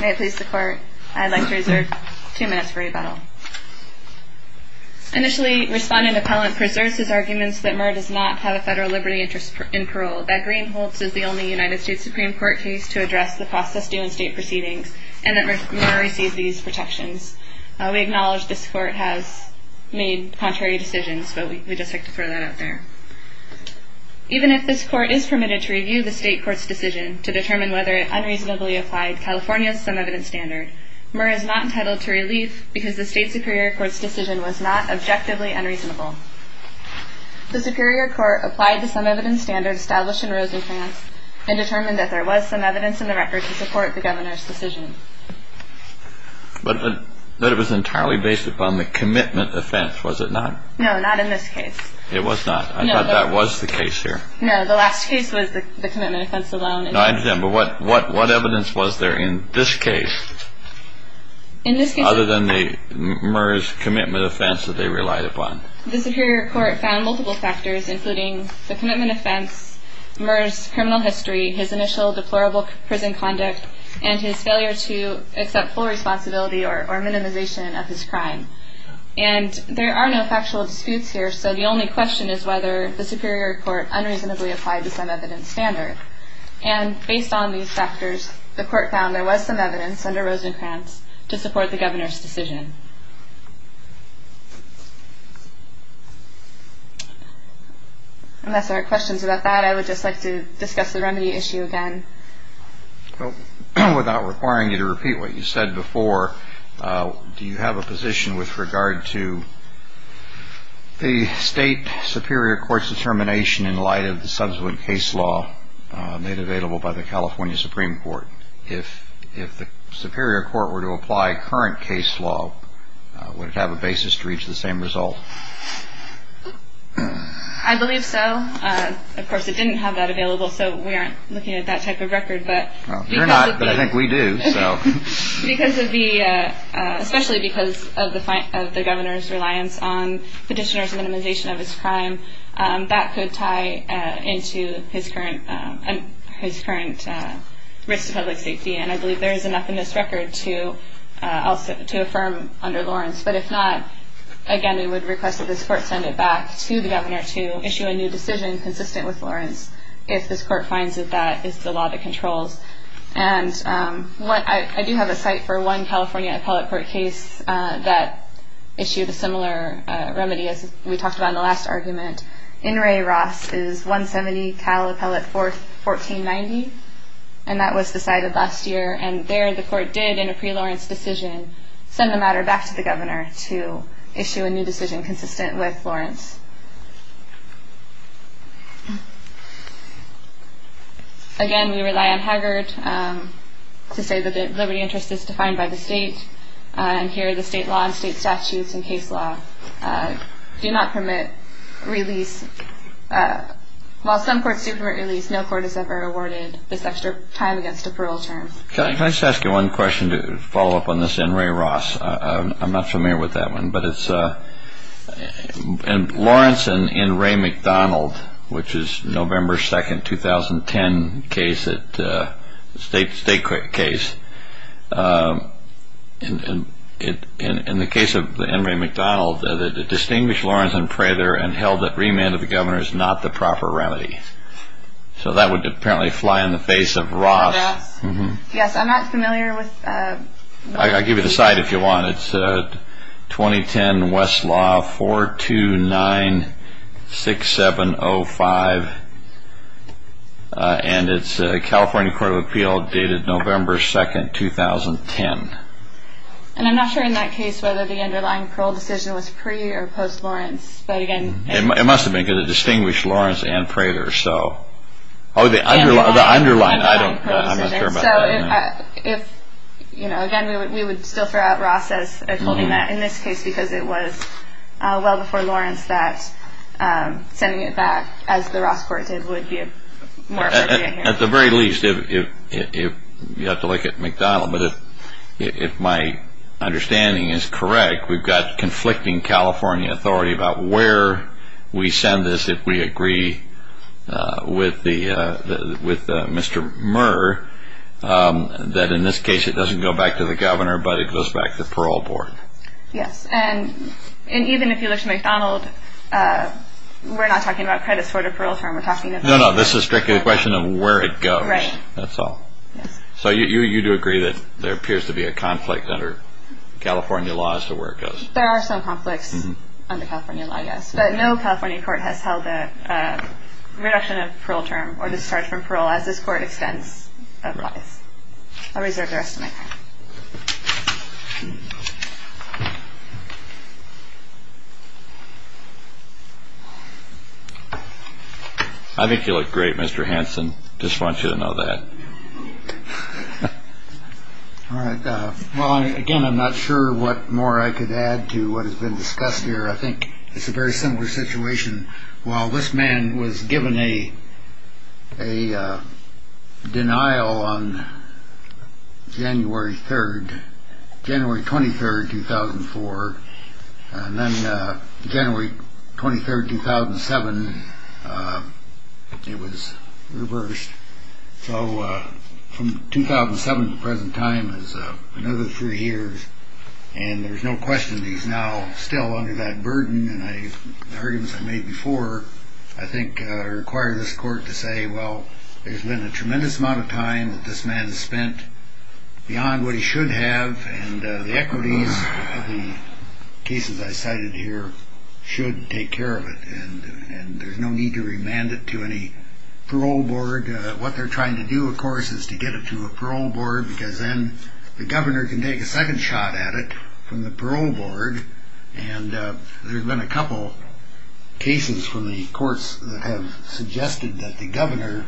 May it please the Court, I'd like to reserve two minutes for rebuttal. Initially, Respondent Appellant preserves his arguments that Murr does not have a federal liberty interest in parole, that Greenholz is the only United States Supreme Court case to address the process due in state proceedings, and that Murr receives these protections. We acknowledge this Court has made contrary decisions, but we'd just like to throw that out there. Even if this Court is permitted to review the State Court's decision to determine whether it unreasonably applied California's sum evidence standard, Murr is not entitled to relief because the State Superior Court's decision was not objectively unreasonable. The Superior Court applied the sum evidence standard established in Rosencrantz and determined that there was sum evidence in the record to support the Governor's decision. But it was entirely based upon the commitment offense, was it not? No, not in this case. It was not. I thought that was the case here. No, the last case was the commitment offense alone. No, I understand. But what evidence was there in this case other than the Murr's commitment offense that they relied upon? The Superior Court found multiple factors, including the commitment offense, Murr's criminal history, his initial deplorable prison conduct, and his failure to accept full responsibility or minimization of his crime. And there are no factual disputes here, so the only question is whether the Superior Court unreasonably applied the sum evidence standard. And based on these factors, the Court found there was sum evidence under Rosencrantz to support the Governor's decision. Unless there are questions about that, I would just like to discuss the remedy issue again. Without requiring you to repeat what you said before, do you have a position with regard to the State Superior Court's determination in light of the subsequent case law made available by the California Supreme Court? If the Superior Court were to apply current case law, would it have a basis to reach the same result? I believe so. Of course, it didn't have that available, so we aren't looking at that type of record. You're not, but I think we do. Especially because of the Governor's reliance on petitioners' minimization of his crime, that could tie into his current risk to public safety, and I believe there is enough in this record to affirm under Lawrence. But if not, again, we would request that this Court send it back to the Governor to issue a new decision consistent with Lawrence if this Court finds that that is the law that controls. And I do have a cite for one California Appellate Court case that issued a similar remedy as we talked about in the last argument. In Re Ross is 170 Cal Appellate 1490, and that was decided last year. And there the Court did, in a pre-Lawrence decision, send the matter back to the Governor to issue a new decision consistent with Lawrence. Again, we rely on Haggard to say that the liberty interest is defined by the State, and here the State law and State statutes and case law do not permit release. While some courts do permit release, no court has ever awarded this extra time against a parole term. Can I just ask you one question to follow up on this in Re Ross? I'm not familiar with that one, but it's, in Lawrence, in Lawrence and in Ray McDonald, which is November 2, 2010 case, State case, in the case of in Ray McDonald, the distinguished Lawrence and Prather and held that remand of the Governor is not the proper remedy. So that would apparently fly in the face of Ross. Yes, I'm not familiar with that. I'll give you the site if you want. It's 2010 Westlaw 4296705, and it's California Court of Appeal, dated November 2, 2010. And I'm not sure in that case whether the underlying parole decision was pre- or post-Lawrence. It must have been, because it distinguished Lawrence and Prather. Oh, the underlying parole decision. Again, we would still throw out Ross as holding that in this case, because it was well before Lawrence that sending it back, as the Ross court did, would be more appropriate here. At the very least, you'd have to look at McDonald, but if my understanding is correct, we've got conflicting California authority about where we send this if we agree with Mr. Murr, that in this case it doesn't go back to the Governor, but it goes back to the Parole Board. Yes, and even if you look at McDonald, we're not talking about credit-sorted parole terms. No, no, this is strictly a question of where it goes, that's all. So you do agree that there appears to be a conflict under California law as to where it goes? There are some conflicts under California law, yes, but no California court has held a reduction of parole term or discharge from parole as this court extends otherwise. I'll reserve the rest of my time. I think you look great, Mr. Hanson. Just want you to know that. All right. Well, again, I'm not sure what more I could add to what has been discussed here. I think it's a very similar situation. While this man was given a denial on January 3rd, January 23rd, 2004, and then January 23rd, 2007, it was reversed. So from 2007 to the present time is another three years. And there's no question he's now still under that burden. And the arguments I made before I think require this court to say, well, there's been a tremendous amount of time that this man has spent beyond what he should have. And the equities of the cases I cited here should take care of it. And there's no need to remand it to any parole board. What they're trying to do, of course, is to get it to a parole board, because then the governor can take a second shot at it from the parole board. And there's been a couple cases from the courts that have suggested that the governor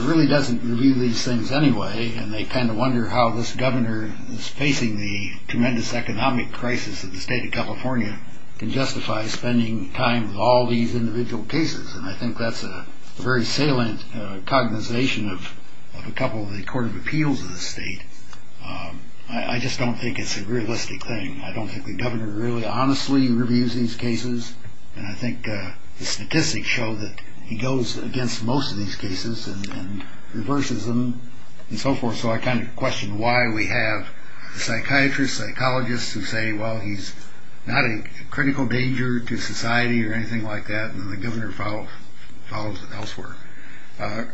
really doesn't review these things anyway. And they kind of wonder how this governor is facing the tremendous economic crisis in the state of California can justify spending time with all these individual cases. And I think that's a very salient cognization of a couple of the court of appeals of the state. I just don't think it's a realistic thing. I don't think the governor really honestly reviews these cases. And I think the statistics show that he goes against most of these cases and reverses them and so forth. So I kind of question why we have psychiatrists, psychologists who say, well, he's not a critical danger to society or anything like that. And then the governor follows it elsewhere.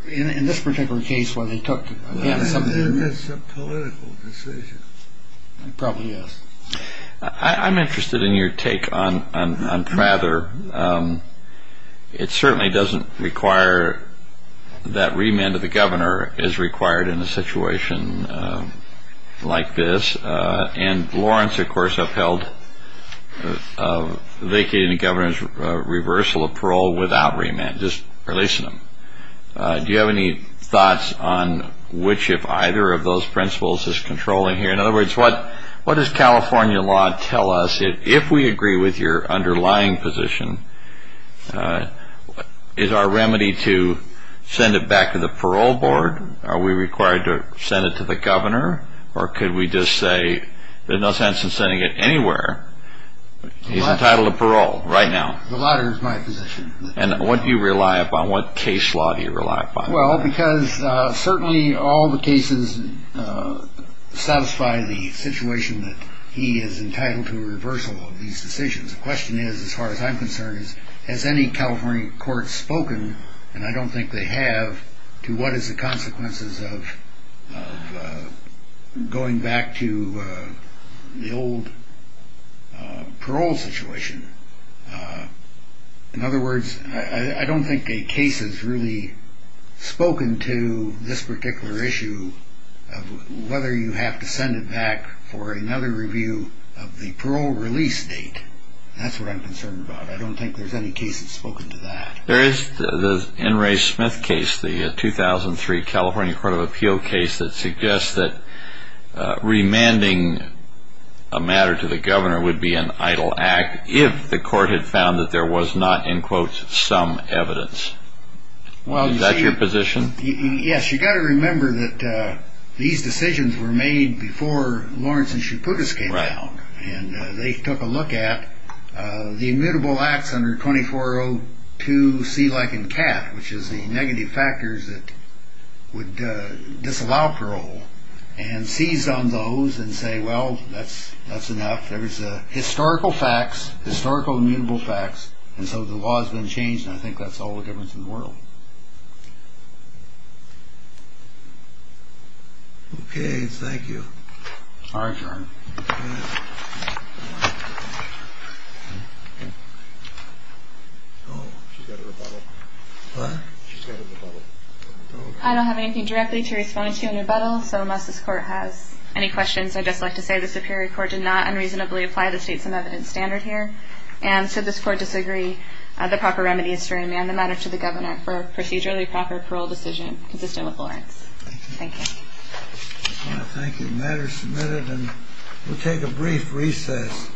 In this particular case where they took advantage of something. It's a political decision. It probably is. I'm interested in your take on Prather. It certainly doesn't require that remand of the governor is required in a situation like this. And Lawrence, of course, upheld vacating the governor's reversal of parole without remand, just releasing him. Do you have any thoughts on which if either of those principles is controlling here? In other words, what does California law tell us if we agree with your underlying position? Is our remedy to send it back to the parole board? Are we required to send it to the governor? Or could we just say there's no sense in sending it anywhere? He's entitled to parole right now. The latter is my position. And what do you rely upon? What case law do you rely upon? Well, because certainly all the cases satisfy the situation that he is entitled to a reversal of these decisions. The question is, as far as I'm concerned, has any California court spoken, and I don't think they have, to what is the consequences of going back to the old parole situation? In other words, I don't think a case has really spoken to this particular issue of whether you have to send it back for another review of the parole release date. That's what I'm concerned about. I don't think there's any case that's spoken to that. There is the N. Ray Smith case, the 2003 California Court of Appeal case, that suggests that remanding a matter to the governor would be an idle act if the court had found that there was not, in quotes, some evidence. Is that your position? Yes. You've got to remember that these decisions were made before Lawrence and Chaputis came along. And they took a look at the immutable acts under 2402C like in CAT, which is the negative factors that would disallow parole, and seized on those and say, well, that's enough. There is historical facts, historical immutable facts, and so the law has been changed, and I think that's all the difference in the world. Okay, thank you. Our turn. Oh, she's got a rebuttal. What? She's got a rebuttal. I don't have anything directly to respond to in rebuttal, so unless this court has any questions, I'd just like to say the Superior Court did not unreasonably apply the States and Evidence Standard here, and so this court disagree the proper remedy is to remand the matter to the governor for a procedurally proper parole decision consistent with Lawrence. Thank you. Thank you. Thank you. The matter is submitted, and we'll take a brief recess.